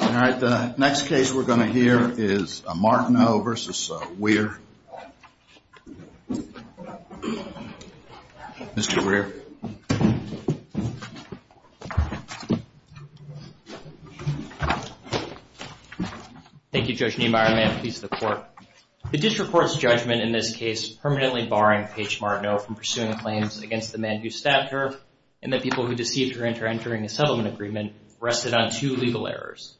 All right, the next case we're going to hear is Martineau v. Wier. Mr. Wier. Thank you, Judge Niemeyer. May it please the Court. The district court's judgment in this case, permanently barring Paige Martineau from pursuing claims against the man who stabbed her, and the people who deceived her into entering a settlement agreement, rested on two legal errors.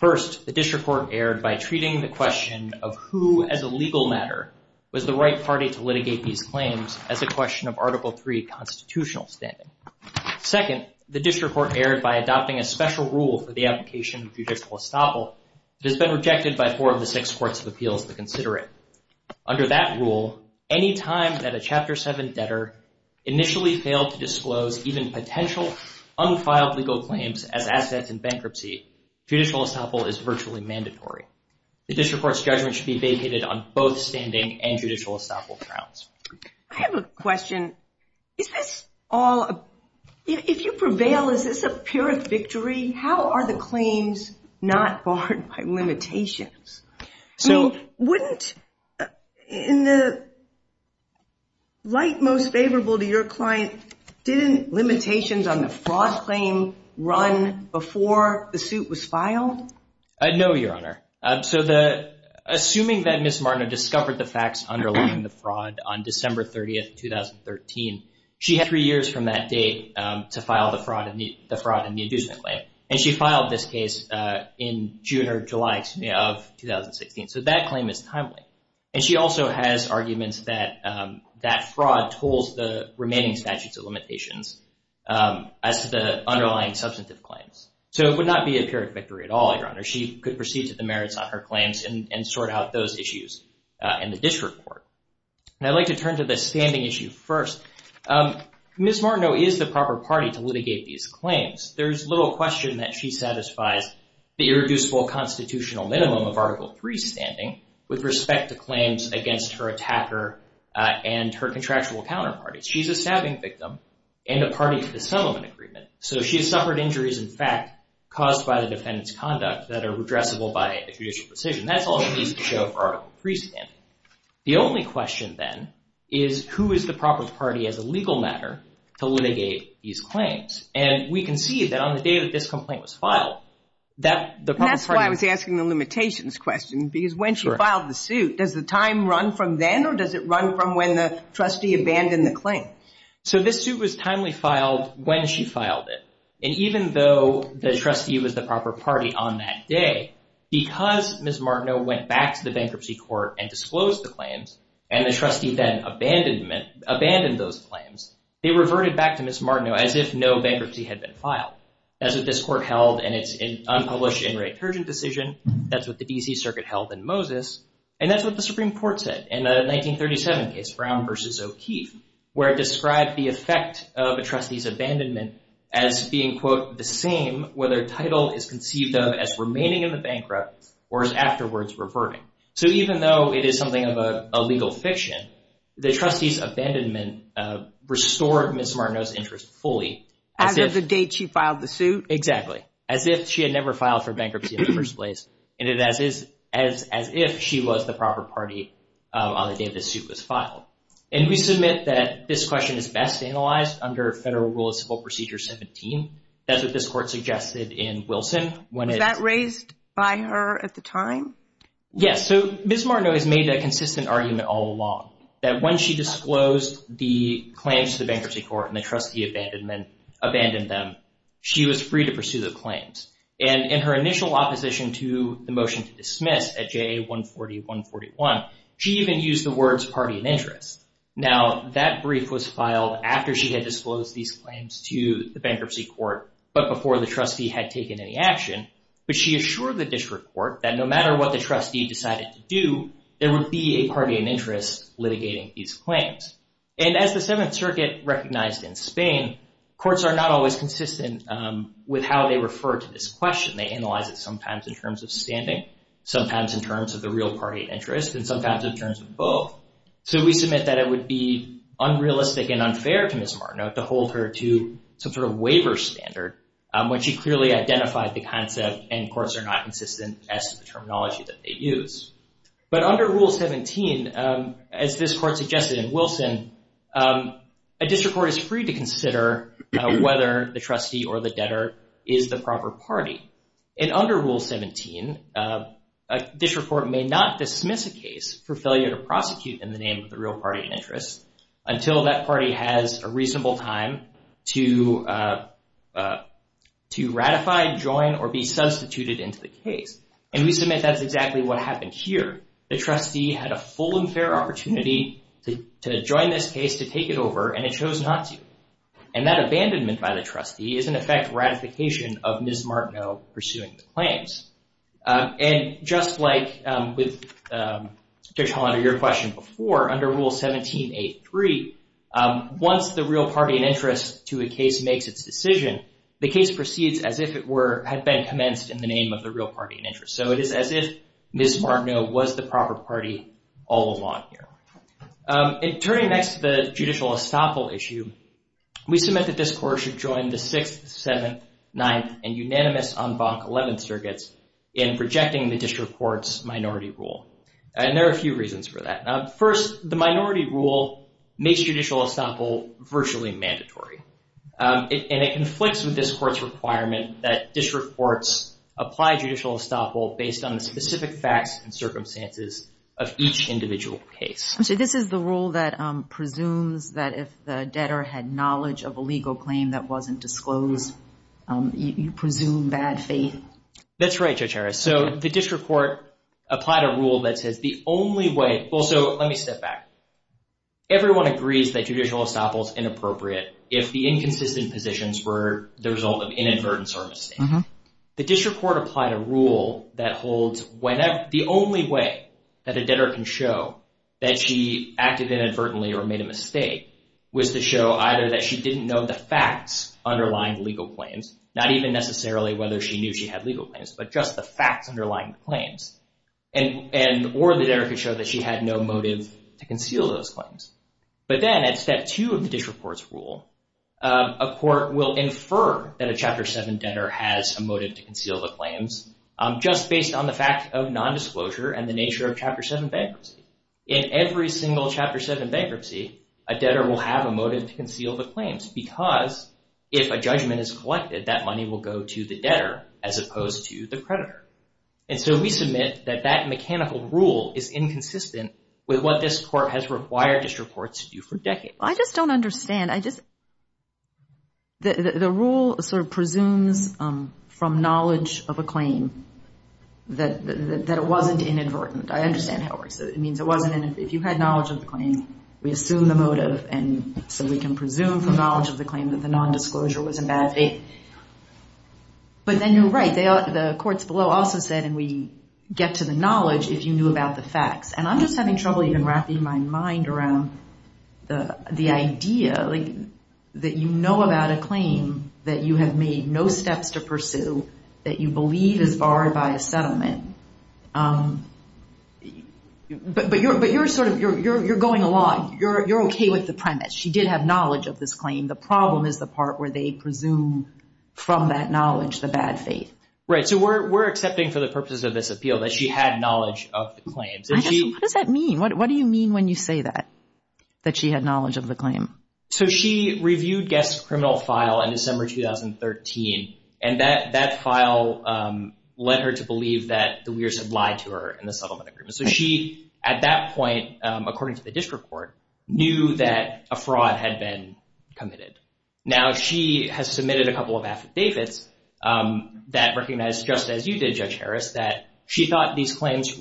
First, the district court erred by treating the question of who, as a legal matter, was the right party to litigate these claims as a question of Article 3 constitutional standing. Second, the district court erred by adopting a special rule for the application of judicial estoppel that has been rejected by four of the six courts of appeals to consider it. Under that rule, any time that a Chapter 7 debtor initially failed to disclose even potential unfiled legal claims as assets in bankruptcy, judicial estoppel is virtually mandatory. The district court's judgment should be vacated on both standing and judicial estoppel grounds. I have a question. If you prevail, is this a pure victory? How are the claims not barred by limitations? So, wouldn't, in the light most favorable to your client, didn't limitations on the fraud claim run before the suit was filed? No, Your Honor. So, assuming that Ms. Martineau discovered the facts underlying the fraud on December 30th, 2013, she had three years from that date to file the fraud in the inducement claim. And she filed this case in June or July, excuse me, of 2016. So, that claim is timely. And she also has arguments that that fraud tools the remaining statutes of limitations as to the underlying substantive claims. So, it would not be a pure victory at all, Your Honor. She could proceed to the merits on her claims and sort out those issues in the district court. And I'd like to turn to the standing issue first. Ms. Martineau is the proper party to litigate these claims. There's little question that she satisfies the irreducible constitutional minimum of Article III standing with respect to claims against her attacker and her contractual counterparty. She's a stabbing victim in the party to the settlement agreement. So, she has suffered injuries, in fact, caused by the defendant's conduct that are redressable by a judicial decision. That's all it needs to show for Article III standing. The only question, then, is who is the proper party as a legal matter to litigate these claims? And we can see that on the day that this complaint was filed, that the proper party... That's why I was asking the limitations question, because when she filed the suit, does the time run from then or does it run from when the trustee abandoned the claim? So, this suit was timely filed when she filed it. And even though the trustee was the proper party on that day, because Ms. Martineau went back to the bankruptcy court and disclosed the claims, and the trustee then abandoned those claims, they reverted back to Ms. Martineau as if no bankruptcy had been filed. That's what this court held in its unpublished, in-write detergent decision. That's what the D.C. Circuit held in Moses. And that's what the Supreme Court said in the 1937 case, Brown v. O'Keefe, where it described the effect of a trustee's abandonment as being, quote, the same whether title is conceived of as remaining in the bankrupt or as afterwards reverting. So, even though it is something of a legal fiction, the trustee's abandonment restored Ms. Martineau's interest fully as if... As if she filed the suit? Exactly. As if she had never filed for bankruptcy in the first place. And it is as if she was the proper party on the day the suit was filed. And we submit that this question is best analyzed under Federal Rule of Civil Procedure 17. That's what this court suggested in Wilson. Was that raised by her at the time? Yes. So, Ms. Martineau has made a consistent argument all along, that when she disclosed the claims to the Bankruptcy Court and the trustee abandoned them, she was free to pursue the claims. And in her initial opposition to the motion to dismiss at JA 140-141, she even used the words party and interest. Now, that brief was filed after she had disclosed these claims to the Bankruptcy Court, but before the trustee had taken any action. But she assured the District Court that no matter what the trustee decided to do, there would be a party and interest litigating these claims. And as the Seventh Circuit recognized in Spain, courts are not always consistent with how they refer to this question. They analyze it sometimes in terms of standing, sometimes in terms of the real party interest, and sometimes in terms of both. So, we submit that it would be unrealistic and unfair to Ms. Martineau to hold her to some sort of waiver standard when she clearly identified the concept and courts are not consistent as the terminology that they use. But under Rule 17, as this court suggested in Wilson, a District Court is free to consider whether the trustee or the debtor is the proper party. And under Rule 17, a District Court may not dismiss a case for failure to prosecute in the name of the real party interest until that the case. And we submit that's exactly what happened here. The trustee had a full and fair opportunity to join this case, to take it over, and it chose not to. And that abandonment by the trustee is, in effect, ratification of Ms. Martineau pursuing the claims. And just like with, Judge Hollander, your question before, under Rule 17.8.3, once the real party and interest to a case makes its decision, the case proceeds as if it were, had been commenced in the name of the real party and interest. So, it is as if Ms. Martineau was the proper party all along here. And turning next to the judicial estoppel issue, we submit that this court should join the 6th, 7th, 9th, and unanimous en banc 11th circuits in rejecting the District Court's minority rule. And there are a few reasons for that. Now, first, the minority rule makes judicial estoppel virtually mandatory. And it conflicts with this court's requirement that District Courts apply judicial estoppel based on the specific facts and circumstances of each individual case. So, this is the rule that presumes that if the debtor had knowledge of a legal claim that wasn't disclosed, you presume bad faith? That's right, Judge Harris. So, the District Court applied a rule that holds the only way that a debtor can show that she acted inadvertently or made a mistake was to show either that she didn't know the facts underlying legal claims, not even necessarily whether she knew she had legal claims, but just the facts underlying the claims, and or the debtor could show that she had no motive to conceal those claims. But then at two of the District Court's rule, a court will infer that a Chapter 7 debtor has a motive to conceal the claims just based on the fact of nondisclosure and the nature of Chapter 7 bankruptcy. In every single Chapter 7 bankruptcy, a debtor will have a motive to conceal the claims because if a judgment is collected, that money will go to the debtor as opposed to the creditor. And so, we submit that that mechanical rule is inconsistent with what this court has required District Courts to do for decades. I just don't understand. I just... The rule sort of presumes from knowledge of a claim that it wasn't inadvertent. I understand how it works. It means it wasn't, if you had knowledge of the claim, we assume the motive, and so we can presume from knowledge of the claim that the nondisclosure was in bad faith. But then you're right. The courts below also said, and we get to the knowledge if you knew about the facts. And I'm just having trouble even wrapping my mind around the idea that you know about a claim that you have made no steps to pursue, that you believe is barred by a settlement. But you're going along. You're okay with the premise. She did have knowledge of this claim. The problem is the part where they presume from that knowledge the bad faith. Right. So, we're accepting for the purposes of this appeal that she had knowledge of the claims. What does that mean? What do you mean when you say that, that she had knowledge of the claim? So, she reviewed Guest's criminal file in December 2013, and that file led her to believe that the weirs had lied to her in the settlement agreement. So, she at that point, according to the District Court, knew that a fraud had been committed. Now, she has submitted a couple of claims that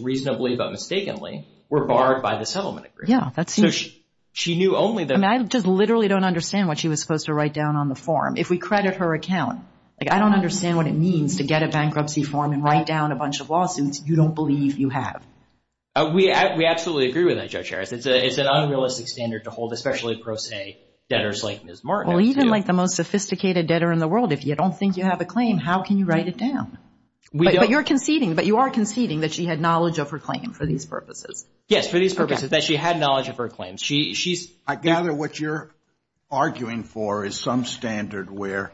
reasonably, but mistakenly, were barred by the settlement agreement. Yeah, that's huge. She knew only that. I just literally don't understand what she was supposed to write down on the form. If we credit her account, I don't understand what it means to get a bankruptcy form and write down a bunch of lawsuits you don't believe you have. We absolutely agree with that, Judge Harris. It's an unrealistic standard to hold, especially pro se debtors like Ms. Martin. Well, even like the most sophisticated debtor in the world, if you don't think you have a claim, how can you write it down? But you're conceding. But you are conceding that she had knowledge of her claim for these purposes. Yes, for these purposes, that she had knowledge of her claims. She's- I gather what you're arguing for is some standard where,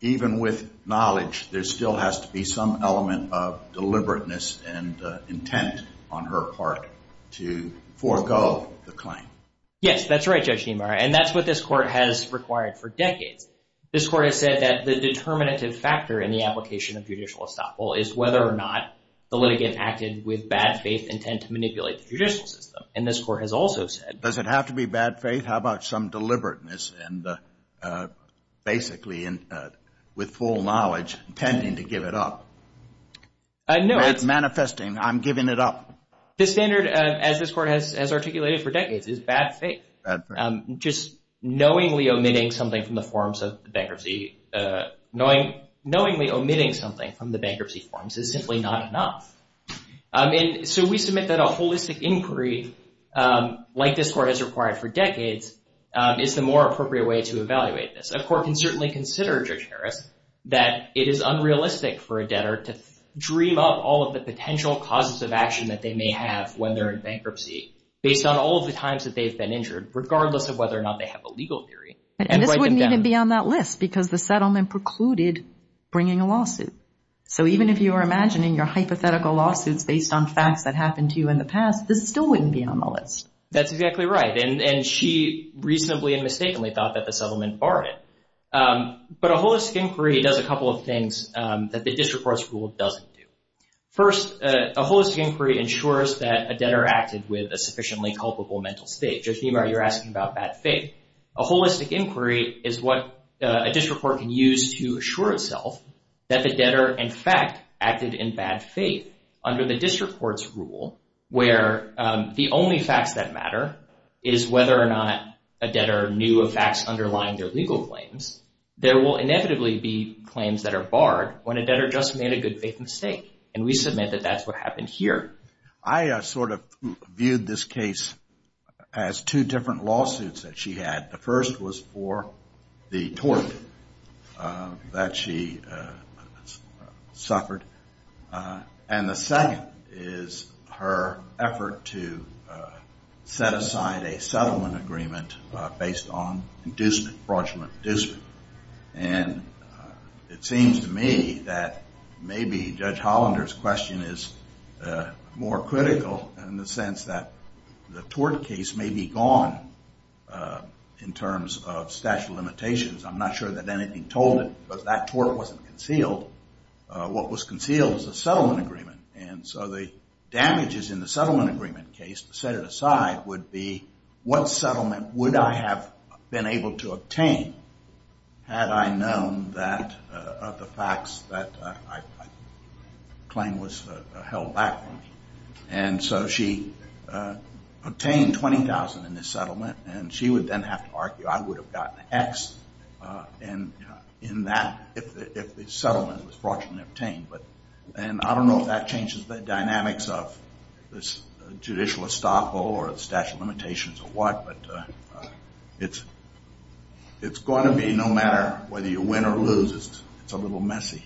even with knowledge, there still has to be some element of deliberateness and intent on her part to forego the claim. Yes, that's right, Judge Niemeyer. And that's what this Court has required for decades. This Court has said that the determinative factor in the application of judicial estoppel is whether or not the litigant acted with bad faith intent to manipulate the judicial system. And this Court has also said- Does it have to be bad faith? How about some deliberateness and basically with full knowledge intending to give it up? No, it's- Manifesting, I'm giving it up. The standard, as this Court has articulated for decades, is bad faith. Bad faith. Just knowingly omitting something from the forms of the bankruptcy- Not enough. So we submit that a holistic inquiry, like this Court has required for decades, is the more appropriate way to evaluate this. A court can certainly consider, Judge Harris, that it is unrealistic for a debtor to dream up all of the potential causes of action that they may have when they're in bankruptcy based on all of the times that they've been injured, regardless of whether or not they have a legal theory. And this wouldn't even be on that list because the settlement precluded bringing a lawsuit. So even if you were imagining your hypothetical lawsuits based on facts that happened to you in the past, this still wouldn't be on the list. That's exactly right. And she reasonably and mistakenly thought that the settlement barred it. But a holistic inquiry does a couple of things that the district court's rule doesn't do. First, a holistic inquiry ensures that a debtor acted with a sufficiently culpable mental state. Judge Niemeyer, you're asking about bad faith. A holistic inquiry is what a district court can use to assure itself that the debtor, in fact, acted in bad faith. Under the district court's rule, where the only facts that matter is whether or not a debtor knew of facts underlying their legal claims, there will inevitably be claims that are barred when a debtor just made a good faith mistake. And we submit that that's what happened here. I sort of viewed this case as two different lawsuits that she had. The first was for the tort that she suffered. And the second is her effort to set aside a settlement agreement based on inducement, fraudulent inducement. And it seems to me that maybe Judge Hollander's question is more critical in the sense that the tort case may be gone in terms of statute of limitations. I'm not sure that anything told it, but that tort wasn't concealed. What was concealed was a settlement agreement. And so the damages in the settlement agreement case, set it aside, would be what settlement would I have been able to obtain had I known that of the facts that I claim was held back from me. And so she obtained $20,000 in this settlement, and she would then have to argue I would have gotten X in that if the settlement was fraudulently obtained. And I don't know if that changes the dynamics of this judicial estoppel or the statute of limitations or what, but it's going to be no matter whether you win or lose, it's a little messy.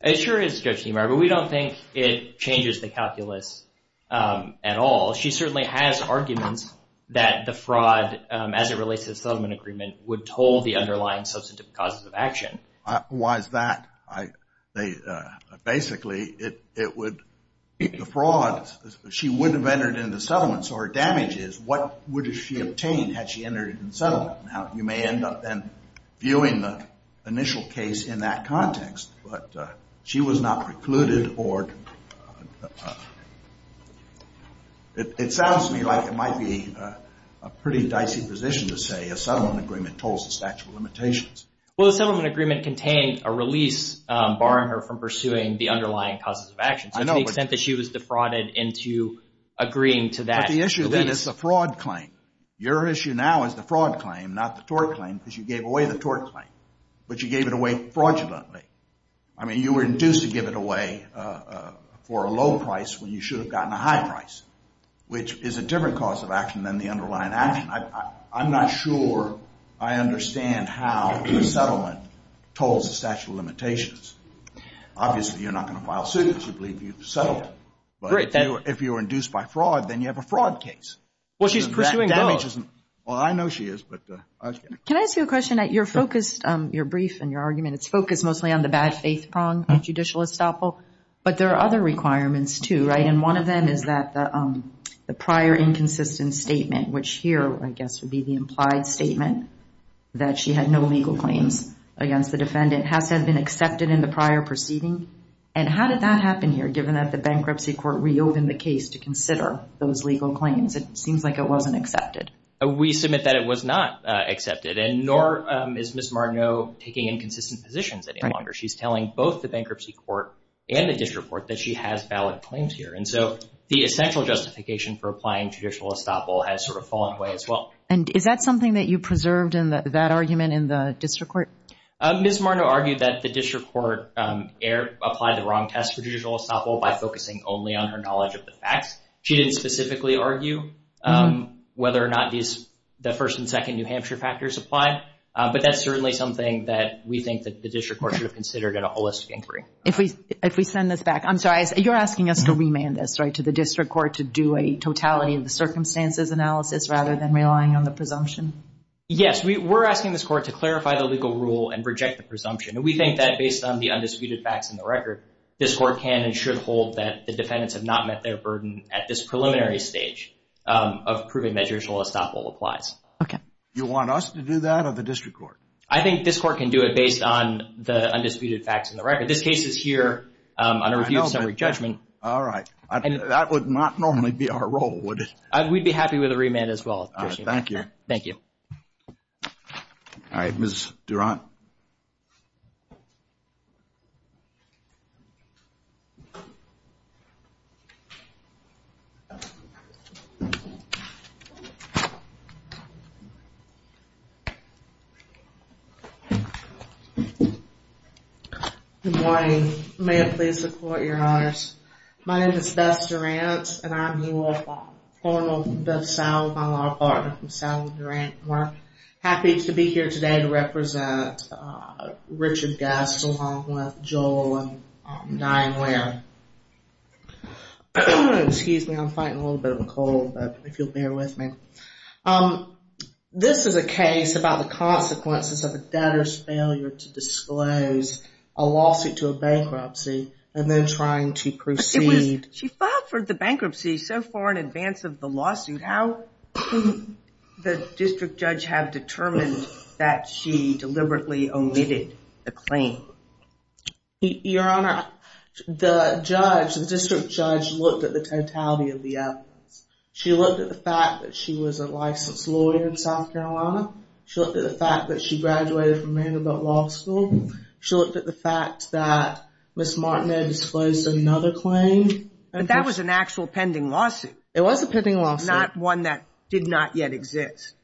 It sure is, Judge Niemeyer, but we don't think it changes the calculus at all. She certainly has arguments that the fraud as it relates to the settlement agreement would toll the underlying substantive causes of action. Why is that? Basically, it would be the fraud. She wouldn't have entered into settlement, so her damage is what would she have obtained had she entered into settlement. Now, you may end up then viewing the initial case in that context, but she was not precluded or... It sounds to me like it might be a pretty dicey position to say a settlement agreement tolls the statute of limitations. Well, the settlement agreement contained a release barring her from pursuing the underlying causes of action. So to the extent that she was defrauded into agreeing to that. The issue then is the fraud claim. Your issue now is the fraud claim, not the tort claim, because you gave away the tort claim, but you gave it away fraudulently. I mean, you were induced to give it away for a low price when you should have gotten a high price, which is a different cause of action than the underlying action. I'm not sure I understand how the settlement tolls the statute of limitations. Obviously, you're not going to file suit if you believe you've settled. But if you were induced by fraud, then you have a fraud case. Well, she's pursuing both. Well, I know she is, but... Can I ask you a question? You're focused on your brief and your argument. It's focused mostly on the bad faith prong of judicial estoppel. But there are other requirements, too, right? And one of them is that the prior inconsistent statement, which here, I guess, would be the implied statement that she had no legal claims against the defendant, has had been accepted in the prior proceeding. And how did that happen here, given that the bankruptcy court reopened the case to consider those legal claims? It seems like it wasn't accepted. We submit that it was not accepted, and nor is Ms. Marnot taking inconsistent positions any longer. She's telling both the bankruptcy court and the district court that she has valid claims here. And so the essential justification for applying judicial estoppel has sort of fallen away as well. And is that something that you preserved in that argument in the district court? Ms. Marnot argued that the district court applied the wrong test for judicial estoppel by focusing only on her knowledge of the facts. She didn't specifically argue whether or not the first and second New Hampshire factors apply. But that's certainly something that we think that the district court should have considered at a holistic inquiry. If we send this back, I'm sorry. You're asking us to remand this, right, to the district court to do a totality of the circumstances analysis rather than relying on the presumption? Yes, we're asking this court to clarify the legal rule and reject the presumption. And we think that based on the undisputed facts in the record, this court can and should hold that the defendants have not met their burden at this preliminary stage of proving that judicial estoppel applies. Okay. You want us to do that or the district court? I think this court can do it based on the undisputed facts in the record. This case is here on a review of summary judgment. All right. That would not normally be our role, would it? We'd be happy with a remand as well. Thank you. Thank you. All right, Ms. Durant. Good morning. May it please the court, your honors. My name is Beth Durant, and I'm your formal Beth Salvin, my law partner from Salvin Durant. We're happy to be here today to represent Richard Guest along with Joel and Diane Ware. Excuse me. I'm fighting a little bit of a cold, but if you'll bear with me. This is a case about the consequences of a debtor's failure to disclose a lawsuit to a bankruptcy and then trying to proceed. But she filed for the bankruptcy so far in advance of the lawsuit. How can the district judge have determined that she deliberately omitted the claim? Your honor, the judge, the district judge, looked at the totality of the evidence. She looked at the fact that she was a licensed lawyer in South Carolina. She looked at the fact that she graduated from Vanderbilt Law School. She looked at the fact that Ms. Martin had disclosed another claim. But that was an actual pending lawsuit. It was a pending lawsuit. Not one that did not yet exist.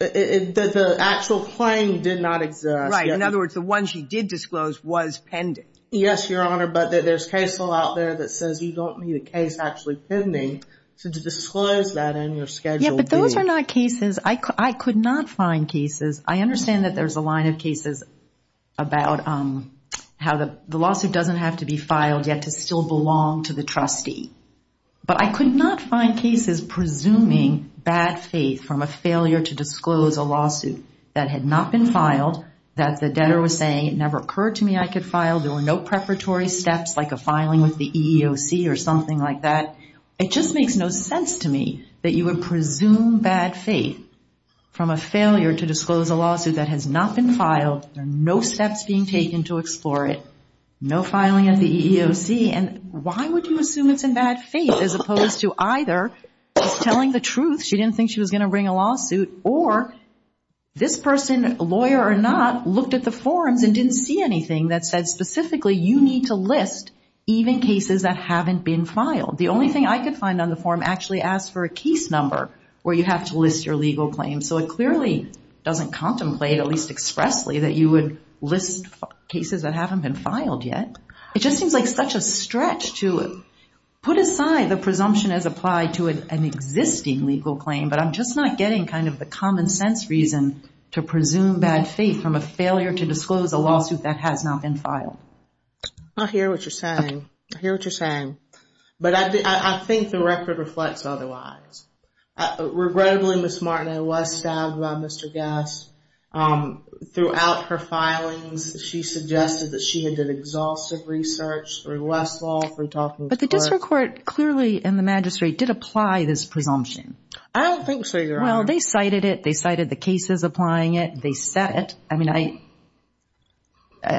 The actual claim did not exist. In other words, the one she did disclose was pending. Yes, your honor. But there's case law out there that says you don't need a case actually pending. So to disclose that in your schedule. Yeah, but those are not cases. I could not find cases. I understand that there's a line of cases about how the lawsuit doesn't have to be filed yet to still belong to the trustee. That had not been filed. That the debtor was saying it never occurred to me I could file. There were no preparatory steps like a filing with the EEOC or something like that. It just makes no sense to me that you would presume bad faith from a failure to disclose a lawsuit that has not been filed. There are no steps being taken to explore it. No filing at the EEOC. And why would you assume it's in bad faith as opposed to either telling the truth she didn't think she was going to bring a lawsuit or this person, lawyer or not, looked at the forms and didn't see anything that said specifically you need to list even cases that haven't been filed. The only thing I could find on the form actually asked for a case number where you have to list your legal claims. So it clearly doesn't contemplate, at least expressly, that you would list cases that haven't been filed yet. It just seems like such a stretch to put aside the presumption as applied to an existing legal claim. But I'm just not getting kind of the common sense reason to presume bad faith from a failure to disclose a lawsuit that has not been filed. I hear what you're saying. I hear what you're saying. But I think the record reflects otherwise. Regrettably, Ms. Martineau was stabbed by Mr. Guest. Throughout her filings, she suggested that she had done exhaustive research through Westlaw. But the district court clearly and the magistrate did apply this presumption. I don't think so, Your Honor. Well, they cited it. They cited the cases applying it. They said it. I mean, I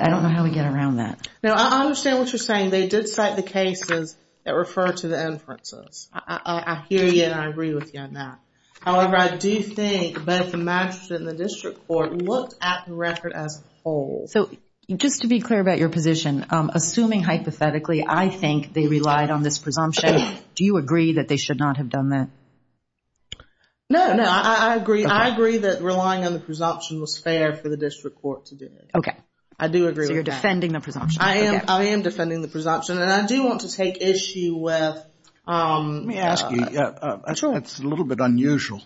don't know how we get around that. No, I understand what you're saying. They did cite the cases that refer to the inferences. I hear you and I agree with you on that. However, I do think both the magistrate and the district court looked at the record as a whole. So just to be clear about your position, assuming hypothetically I think they relied on this presumption, do you agree that they should not have done that? No, no, I agree. I agree that relying on the presumption was fair for the district court to do it. Okay. I do agree. So you're defending the presumption. I am. I am defending the presumption. And I do want to take issue with... Let me ask you, I'm sure it's a little bit unusual.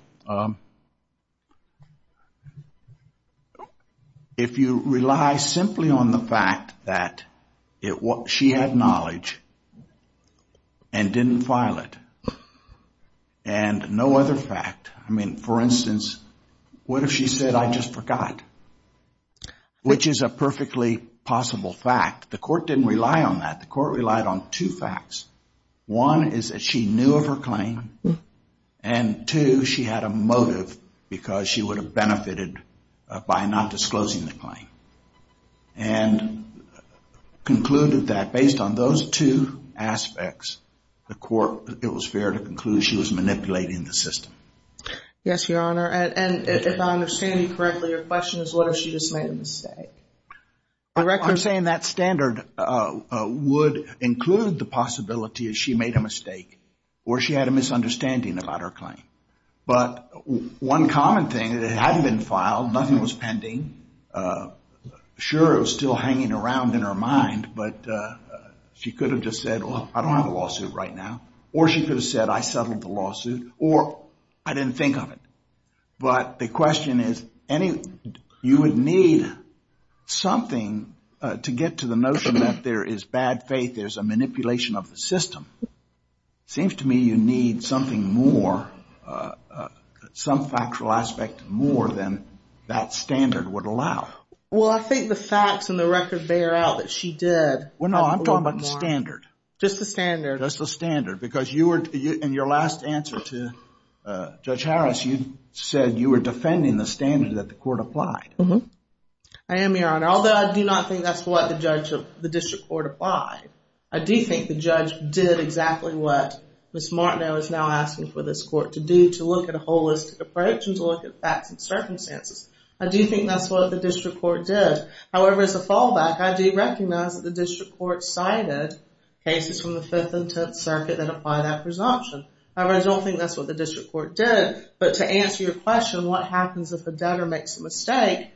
If you rely simply on the fact that she had knowledge and didn't file it and no other fact, I mean, for instance, what if she said, I just forgot? Which is a perfectly possible fact. The court didn't rely on that. The court relied on two facts. One is that she knew of her claim. And two, she had a motive because she would have benefited by not disclosing the claim. And concluded that based on those two aspects, the court, it was fair to conclude she was manipulating the system. Yes, Your Honor. And if I understand you correctly, your question is what if she just made a mistake? I'm saying that standard would include the possibility that she made a mistake or she had a misunderstanding about her claim. But one common thing, it hadn't been filed. Nothing was pending. Sure, it was still hanging around in her mind. But she could have just said, well, I don't have a lawsuit right now. Or she could have said, I settled the lawsuit. Or I didn't think of it. But the question is, you would need something to get to the notion that there is bad faith, there's a manipulation of the system. It seems to me you need something more, some factual aspect more than that standard would allow. Well, I think the facts and the record bear out that she did. Well, no, I'm talking about the standard. Just the standard. Just the standard. Because you were, in your last answer to Judge Harris, you said you were defending the standard that the court applied. I am, Your Honor. Although I do not think that's what the district court applied, I do think the judge did exactly what Ms. Martineau is now asking for this court to do, to look at a holistic approach and to look at facts and circumstances. I do think that's what the district court did. However, as a fallback, I do recognize that the district court cited cases from the Fifth and Tenth Circuit that apply that presumption. However, I don't think that's what the district court did. But to answer your question, what happens if a debtor makes a mistake,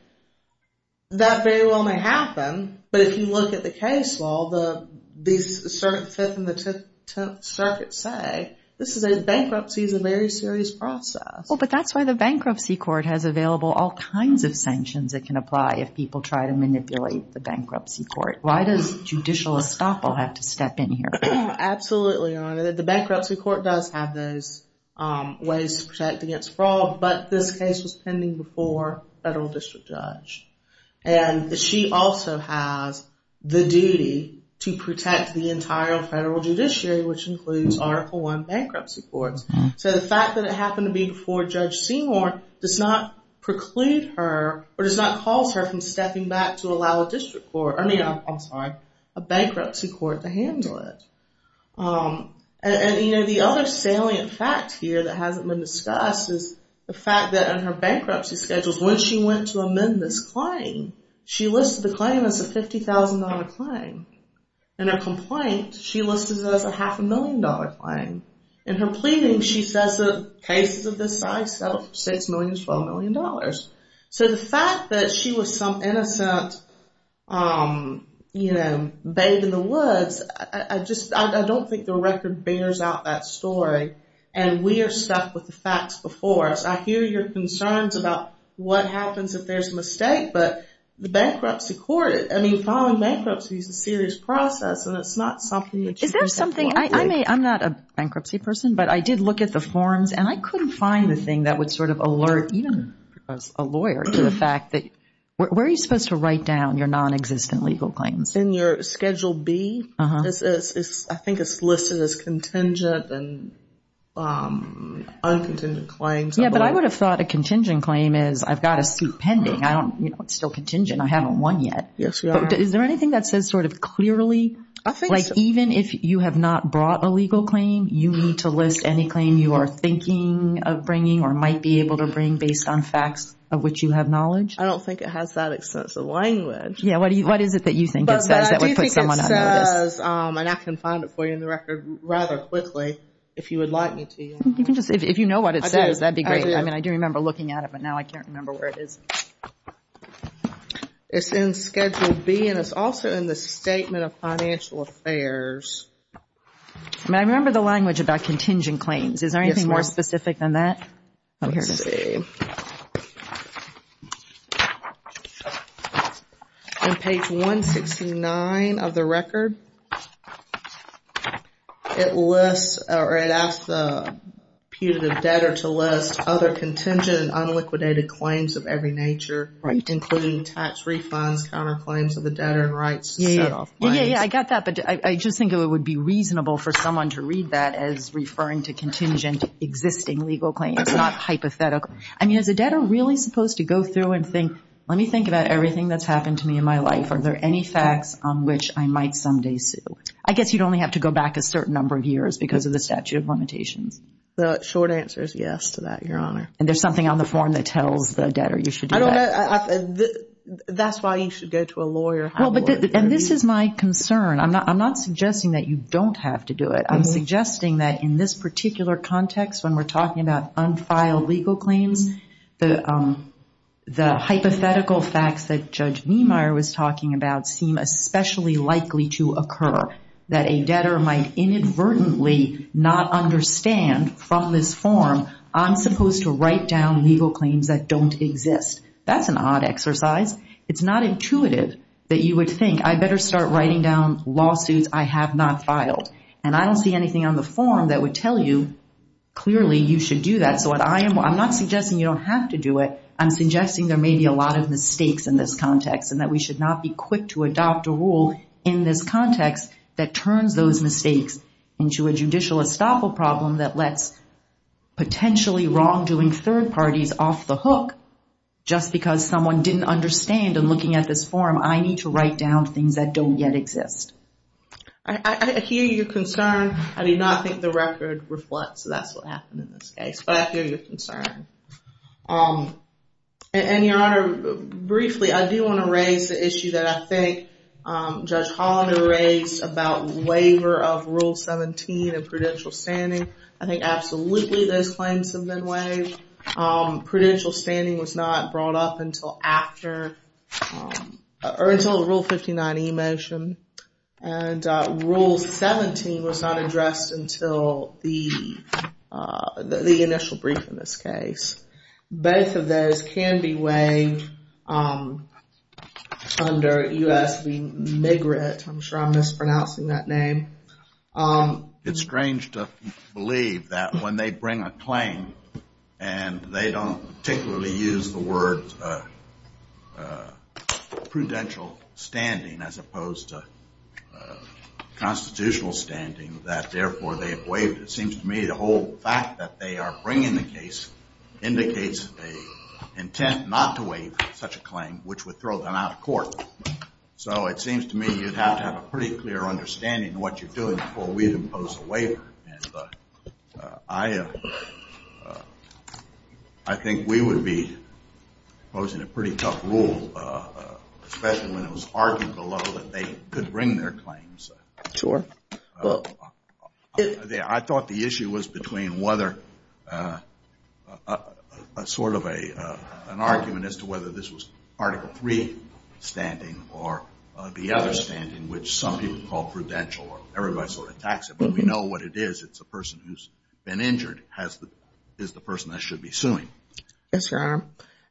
that very well may happen. But if you look at the case law, the Fifth and the Tenth Circuit say, this is a bankruptcy, it's a very serious process. But that's why the bankruptcy court has available all kinds of sanctions that can apply if people try to manipulate the bankruptcy court. Why does judicial estoppel have to step in here? Absolutely, Your Honor. The bankruptcy court does have those ways to protect against fraud. But this case was pending before a federal district judge. And she also has the duty to protect the entire federal judiciary, which includes Article I bankruptcy courts. So the fact that it happened to be before Judge Seymour does not preclude her, or does not cause her from stepping back to allow a district court, I mean, I'm sorry, a bankruptcy court to handle it. And, you know, the other salient fact here that hasn't been discussed is the fact that in her bankruptcy schedules, when she went to amend this claim, she listed the claim as a $50,000 claim. In her complaint, she listed it as a half a million dollar claim. In her pleading, she says that cases of this size settle for $6 million to $12 million. So the fact that she was some innocent, you know, babe in the woods, I just, I don't think the record bears out that story. And we are stuck with the facts before us. I hear your concerns about what happens if there's a mistake, but the bankruptcy court, I mean, filing bankruptcy is a serious process. And it's not something that you can simply- I'm not a bankruptcy person, but I did look at the forms and I couldn't find the thing that would sort of alert even a lawyer to the fact that, where are you supposed to write down your non-existent legal claims? In your Schedule B, I think it's listed as contingent and un-contingent claims. Yeah, but I would have thought a contingent claim is, I've got a suit pending. I don't, you know, it's still contingent. I haven't won yet. Yes, you are. Is there anything that says sort of clearly, like even if you have not brought a legal claim, you need to list any claim you are thinking of bringing or might be able to bring based on facts of which you have knowledge? I don't think it has that extensive language. Yeah, what do you, what is it that you think it says that would put someone unnoticed? But I do think it says, and I can find it for you in the record rather quickly, if you would like me to. You can just, if you know what it says, that'd be great. I mean, I do remember looking at it, but now I can't remember where it is. It's in Schedule B and it's also in the Statement of Financial Affairs. I mean, I remember the language about contingent claims. Is there anything more specific than that? Let's see. On page 169 of the record, it lists, or it asks the putative debtor to list other contingent and unliquidated claims of every nature, including tax refunds, counterclaims of the debtor and rights to set off claims. Yeah, yeah, yeah, I got that. But I just think it would be reasonable for someone to read that as referring to contingent existing legal claims, not hypothetical. I mean, is a debtor really supposed to go through and think, let me think about everything that's happened to me in my life. Are there any facts on which I might someday sue? I guess you'd only have to go back a certain number of years because of the statute of limitations. The short answer is yes to that, Your Honor. And there's something on the form that tells the debtor you should do that. That's why you should go to a lawyer. And this is my concern. I'm not suggesting that you don't have to do it. I'm suggesting that in this particular context, when we're talking about unfiled legal claims, the hypothetical facts that Judge Niemeyer was talking about seem especially likely to occur. That a debtor might inadvertently not understand from this form, I'm supposed to write down legal claims that don't exist. That's an odd exercise. It's not intuitive that you would think, I better start writing down lawsuits I have not filed. And I don't see anything on the form that would tell you, clearly, you should do that. So I'm not suggesting you don't have to do it. I'm suggesting there may be a lot of mistakes in this context and that we should not be quick to adopt a rule in this context that turns those mistakes into a judicial estoppel problem that lets potentially wrongdoing third parties off the hook. Just because someone didn't understand in looking at this form, I need to write down things that don't yet exist. I hear your concern. I do not think the record reflects that's what happened in this case. But I hear your concern. And Your Honor, briefly, I do want to raise the issue that I think Judge Hollander raised about waiver of Rule 17 and prudential standing. I think absolutely those claims have been waived. Prudential standing was not brought up until after, or until the Rule 59e motion. And Rule 17 was not addressed until the initial brief in this case. Both of those can be waived under U.S. v. Migrant. I'm sure I'm mispronouncing that name. It's strange to believe that when they bring a claim and they don't particularly use the word prudential standing as opposed to constitutional standing, that therefore they have waived. It seems to me the whole fact that they are bringing the case indicates an intent not to waive such a claim, which would throw them out of court. So it seems to me you'd have to have a pretty clear understanding of what you're doing before we'd impose a waiver. I think we would be imposing a pretty tough rule, especially when it was argued to the level that they could bring their claims. Sure. Well, I thought the issue was between whether a sort of an argument as to whether this was Article III standing or the other standing, which some people call prudential or everybody sort of attacks it. But we know what it is. It's a person who's been injured is the person that should be suing. Yes, Your Honor.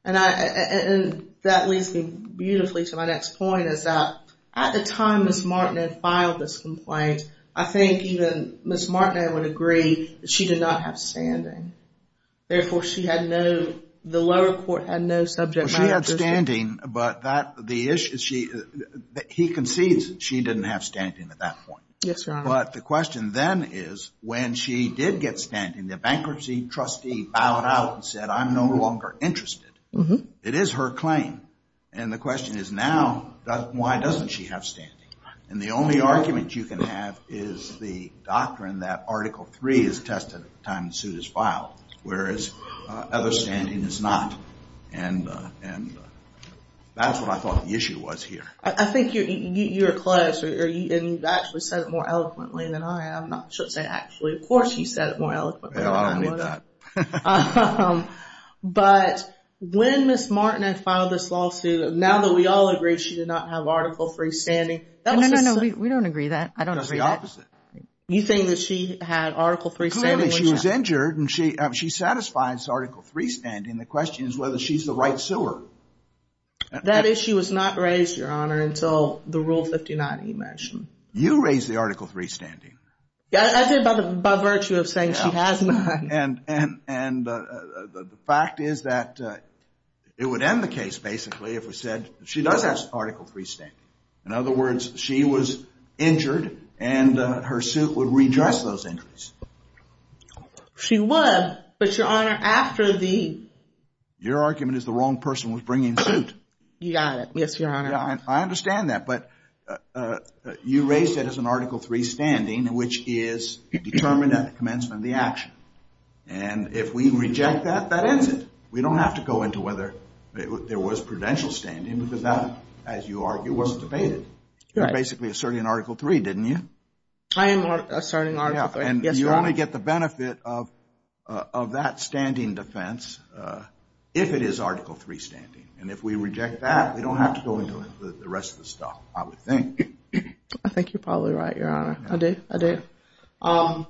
And that leads me beautifully to my next point is that at the time Ms. Martineau filed this complaint, I think even Ms. Martineau would agree that she did not have standing. Therefore, she had no, the lower court had no subject matter. She had standing, but that the issue is she, he concedes that she didn't have standing at that point. Yes, Your Honor. But the question then is when she did get standing, the bankruptcy trustee bowed out and said, I'm no longer interested. It is her claim. And the question is now, why doesn't she have standing? And the only argument you can have is the doctrine that Article III is tested at the time the suit is filed, whereas other standing is not. And that's what I thought the issue was here. I think you're close and you've actually said it more eloquently than I am. I should say actually, of course, you said it more eloquently than I would have. Um, but when Ms. Martineau filed this lawsuit, now that we all agree she did not have Article III standing. No, no, no, we don't agree that. I don't agree that. That's the opposite. You think that she had Article III standing? She was injured and she, she satisfies Article III standing. The question is whether she's the right sewer. That issue was not raised, Your Honor, until the Rule 59, you mentioned. You raised the Article III standing. Yeah, I did by virtue of saying she has not. And the fact is that it would end the case, basically, if we said she does have Article III standing. In other words, she was injured and her suit would redress those injuries. She was, but Your Honor, after the... Your argument is the wrong person was bringing the suit. You got it. Yes, Your Honor. I understand that. But you raised it as an Article III standing, which is determined at the commencement of the action. And if we reject that, that ends it. We don't have to go into whether there was prudential standing because that, as you argue, wasn't debated. You're basically asserting Article III, didn't you? I am asserting Article III, yes, Your Honor. And you only get the benefit of that standing defense if it is Article III standing. And if we reject that, we don't have to go into the rest of the stuff, I would think. I think you're probably right, Your Honor. I do, I do. Um,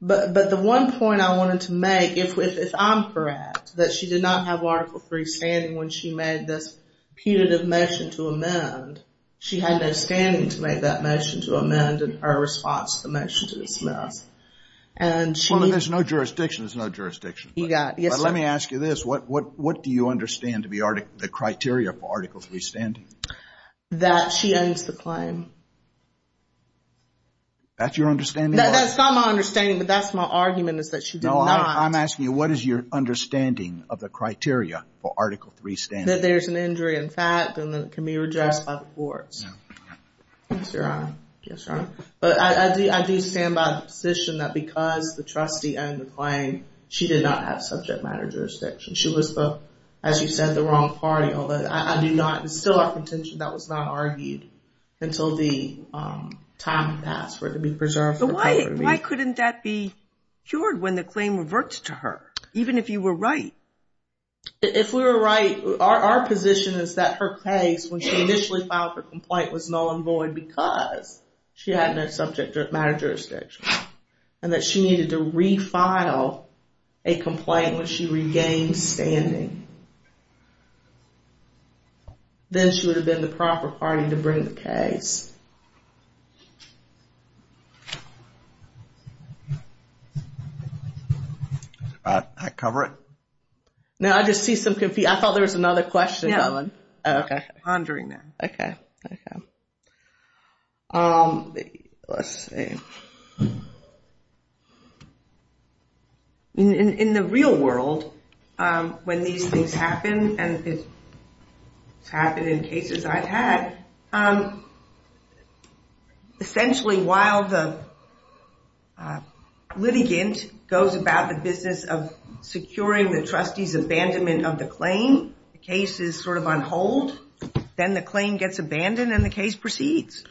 but the one point I wanted to make, if I'm correct, that she did not have Article III standing when she made this punitive motion to amend, she had no standing to make that motion to amend in her response to the motion to dismiss. And she... Well, if there's no jurisdiction, there's no jurisdiction. You got it. Let me ask you this. What do you understand to be the criteria for Article III standing? That she owns the claim. That's your understanding? That's not my understanding. But that's my argument is that she did not. I'm asking you, what is your understanding of the criteria for Article III standing? That there's an injury in fact, and that it can be rejected by the courts. Yes, Your Honor. Yes, Your Honor. But I do stand by the position that because the trustee owned the claim, she did not have subject matter jurisdiction. She was the, as you said, the wrong party. Although I do not instill a contention that was not argued until the time passed for it to be preserved. Why couldn't that be cured when the claim reverts to her? Even if you were right. If we were right, our position is that her case, when she initially filed for complaint, was null and void because she had no subject matter jurisdiction. And that she needed to refile a complaint when she regained standing. Then she would have been the proper party to bring the case. I cover it? No, I just see some confusion. I thought there was another question. Yeah, I'm pondering that. Okay, okay. Let's see. In the real world, when these things happen, and it's happened in cases I've had, essentially while the litigant goes about the business of securing the trustee's abandonment of the claim, the case is sort of on hold. Then the claim gets abandoned and the case proceeds.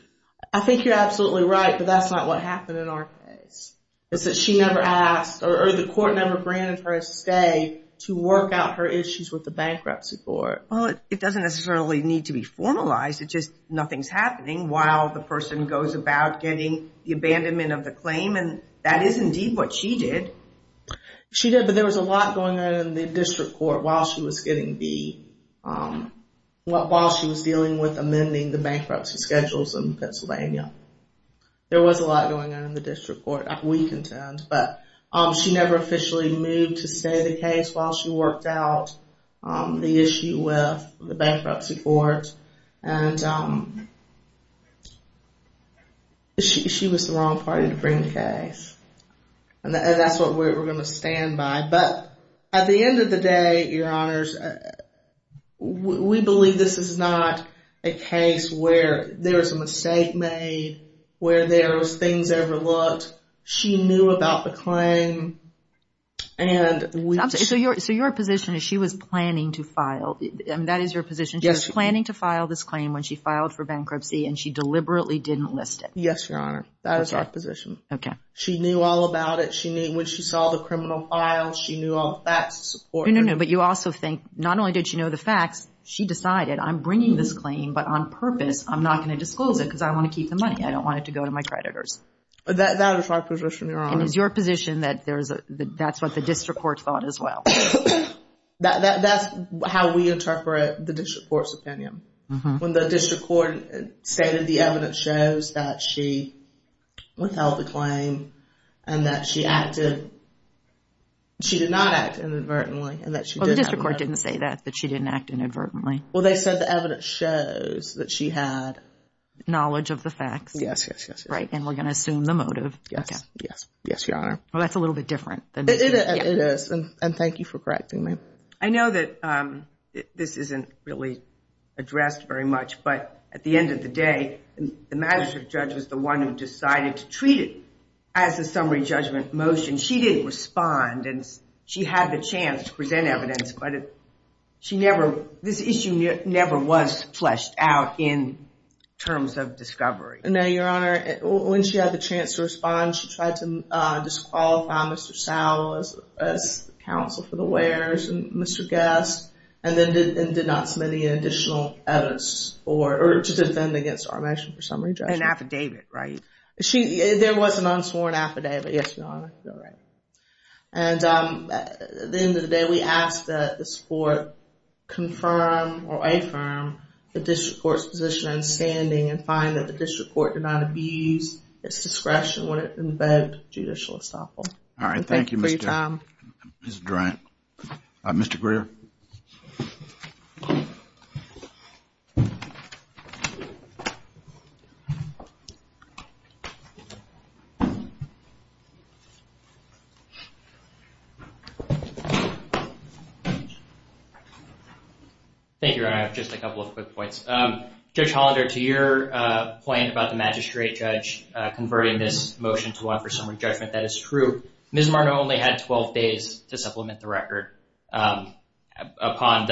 I think you're absolutely right, but that's not what happened in our case. It's that she never asked, or the court never granted her a stay to work out her issues with the bankruptcy court. Well, it doesn't necessarily need to be formalized. Nothing's happening while the person goes about getting the abandonment of the claim, and that is indeed what she did. She did, but there was a lot going on in the district court while she was getting beat, while she was dealing with amending the bankruptcy schedules in Pennsylvania. There was a lot going on in the district court, we contend, but she never officially moved to stay the case while she worked out the issue with the bankruptcy court. And she was the wrong party to bring the case, and that's what we're going to stand by. But at the end of the day, Your Honors, we believe this is not a case where there was a mistake made, where there was things overlooked. She knew about the claim, and we... I'm sorry, so your position is she was planning to file? I mean, that is your position. She was planning to file this claim when she filed for bankruptcy, and she deliberately didn't list it. Yes, Your Honor, that is our position. Okay. She knew all about it. When she saw the criminal files, she knew all the facts to support it. No, no, no, but you also think not only did she know the facts, she decided, I'm bringing this claim, but on purpose, I'm not going to disclose it because I want to keep the money. I don't want it to go to my creditors. That is my position, Your Honor. And is your position that that's what the district court thought as well? That's how we interpret the district court's opinion. When the district court stated the evidence shows that she withheld the claim and that she acted... She did not act inadvertently and that she did... Well, the district court didn't say that, that she didn't act inadvertently. Well, they said the evidence shows that she had... Knowledge of the facts. Yes, yes, yes, yes. Right, and we're going to assume the motive. Yes, yes, yes, Your Honor. Well, that's a little bit different than... It is, and thank you for correcting me. I know that this isn't really addressed very much, but at the end of the day, the magistrate judge was the one who decided to treat it as a summary judgment motion. She didn't respond and she had the chance to present evidence, but this issue never was fleshed out in terms of discovery. No, Your Honor. When she had the chance to respond, she tried to disqualify Mr. Sowell as counsel for the wares and Mr. Guest and then did not submit any additional evidence or to defend against our measure for summary judgment. An affidavit, right? There was an unsworn affidavit, yes, Your Honor. All right, and at the end of the day, we asked that the support confirm or affirm the district court's position and standing and find that the district court did not abuse its discretion in the bed judicial estoppel. All right, thank you, Mr. Durant. Mr. Greer. Thank you, Your Honor. Just a couple of quick points. Judge Hollander, to your point about the magistrate judge converting this motion to one for summary judgment, that is true. Ms. Martineau only had 12 days to supplement the record upon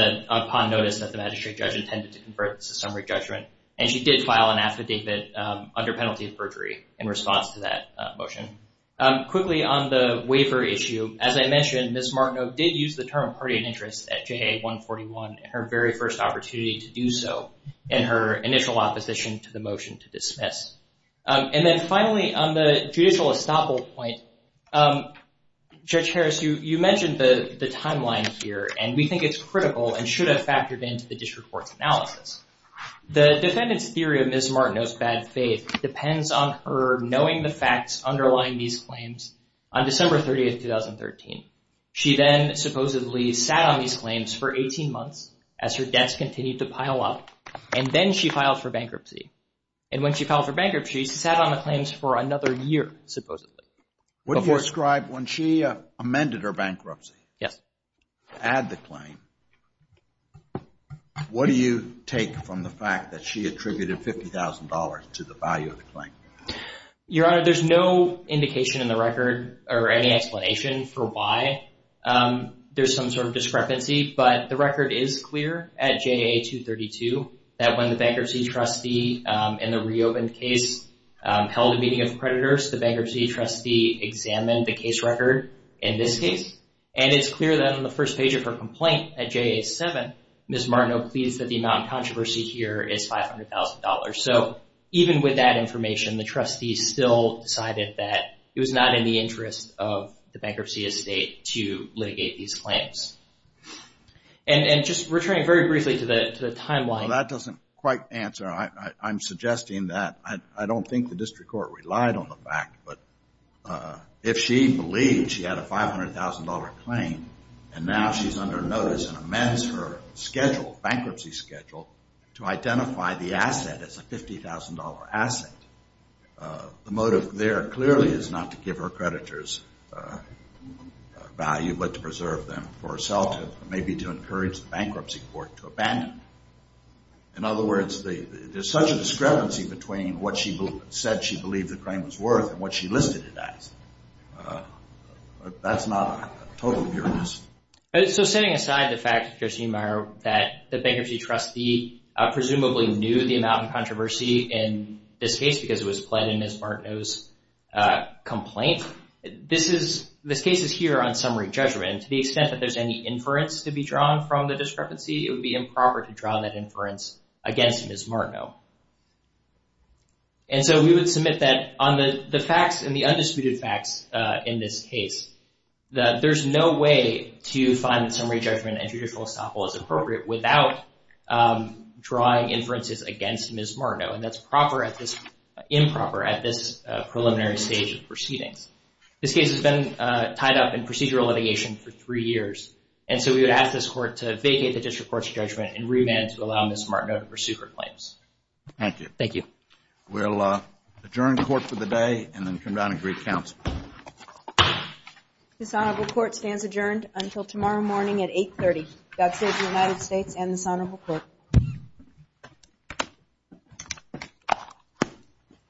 notice that the magistrate judge intended to convert the summary judgment and she did file an affidavit under penalty of perjury in response to that motion. Quickly on the waiver issue, as I mentioned, Ms. Martineau did use the term party of interest at JA141, her very first opportunity to do so in her initial opposition to the motion to dismiss. And then finally, on the judicial estoppel point, Judge Harris, you mentioned the timeline here and we think it's critical and should have factored into the district court's analysis. The defendant's theory of Ms. Martineau's bad faith depends on her knowing the facts underlying these claims on December 30th, 2013. She then supposedly sat on these claims for 18 months as her debts continued to pile up and then she filed for bankruptcy. And when she filed for bankruptcy, she sat on the claims for another year, supposedly. What do you ascribe when she amended her bankruptcy? Yes. Add the claim. What do you take from the fact that she attributed $50,000 to the value of the claim? Your Honor, there's no indication in the record or any explanation for why there's some sort of discrepancy, but the record is clear at JA232 that when the bankruptcy trustee in the reopened case held a meeting of creditors, the bankruptcy trustee examined the case record in this case. And it's clear that on the first page of her complaint at JA7, Ms. Martineau pleads that the amount of controversy here is $500,000. So even with that information, the trustee still decided that it was not in the interest of the bankruptcy estate to litigate these claims. And just returning very briefly to the timeline. That doesn't quite answer. I'm suggesting that I don't think the district court relied on the fact, but if she believed she had a $500,000 claim and now she's under notice and amends her schedule, bankruptcy schedule, to identify the asset as a $50,000 asset, the motive there clearly is not to give her creditors value, but to preserve them for herself, maybe to encourage the bankruptcy court to abandon. In other words, there's such a discrepancy between what she said she believed the claim was worth and what she listed it as. That's not a total bureaucracy. So setting aside the fact, Josephine Meyer, that the bankruptcy trustee presumably knew the amount of controversy in this case because it was pled in Ms. Martineau's complaint, this case is here on summary judgment. To the extent that there's any inference to be drawn from the discrepancy, it would be improper to draw that inference against Ms. Martineau. And so we would submit that on the facts and the undisputed facts in this case, that there's no way to find that summary judgment and judicial estoppel is appropriate without drawing inferences against Ms. Martineau, and that's improper at this preliminary stage of proceedings. This case has been tied up in procedural litigation for three years, and so we would ask this court to vacate the district court's judgment and remand to allow Ms. Martineau to pursue her claims. Thank you. Thank you. We'll adjourn court for the day and then come down and greet counsel. This honorable court stands adjourned until tomorrow morning at 8 30. God save the United States and this honorable court.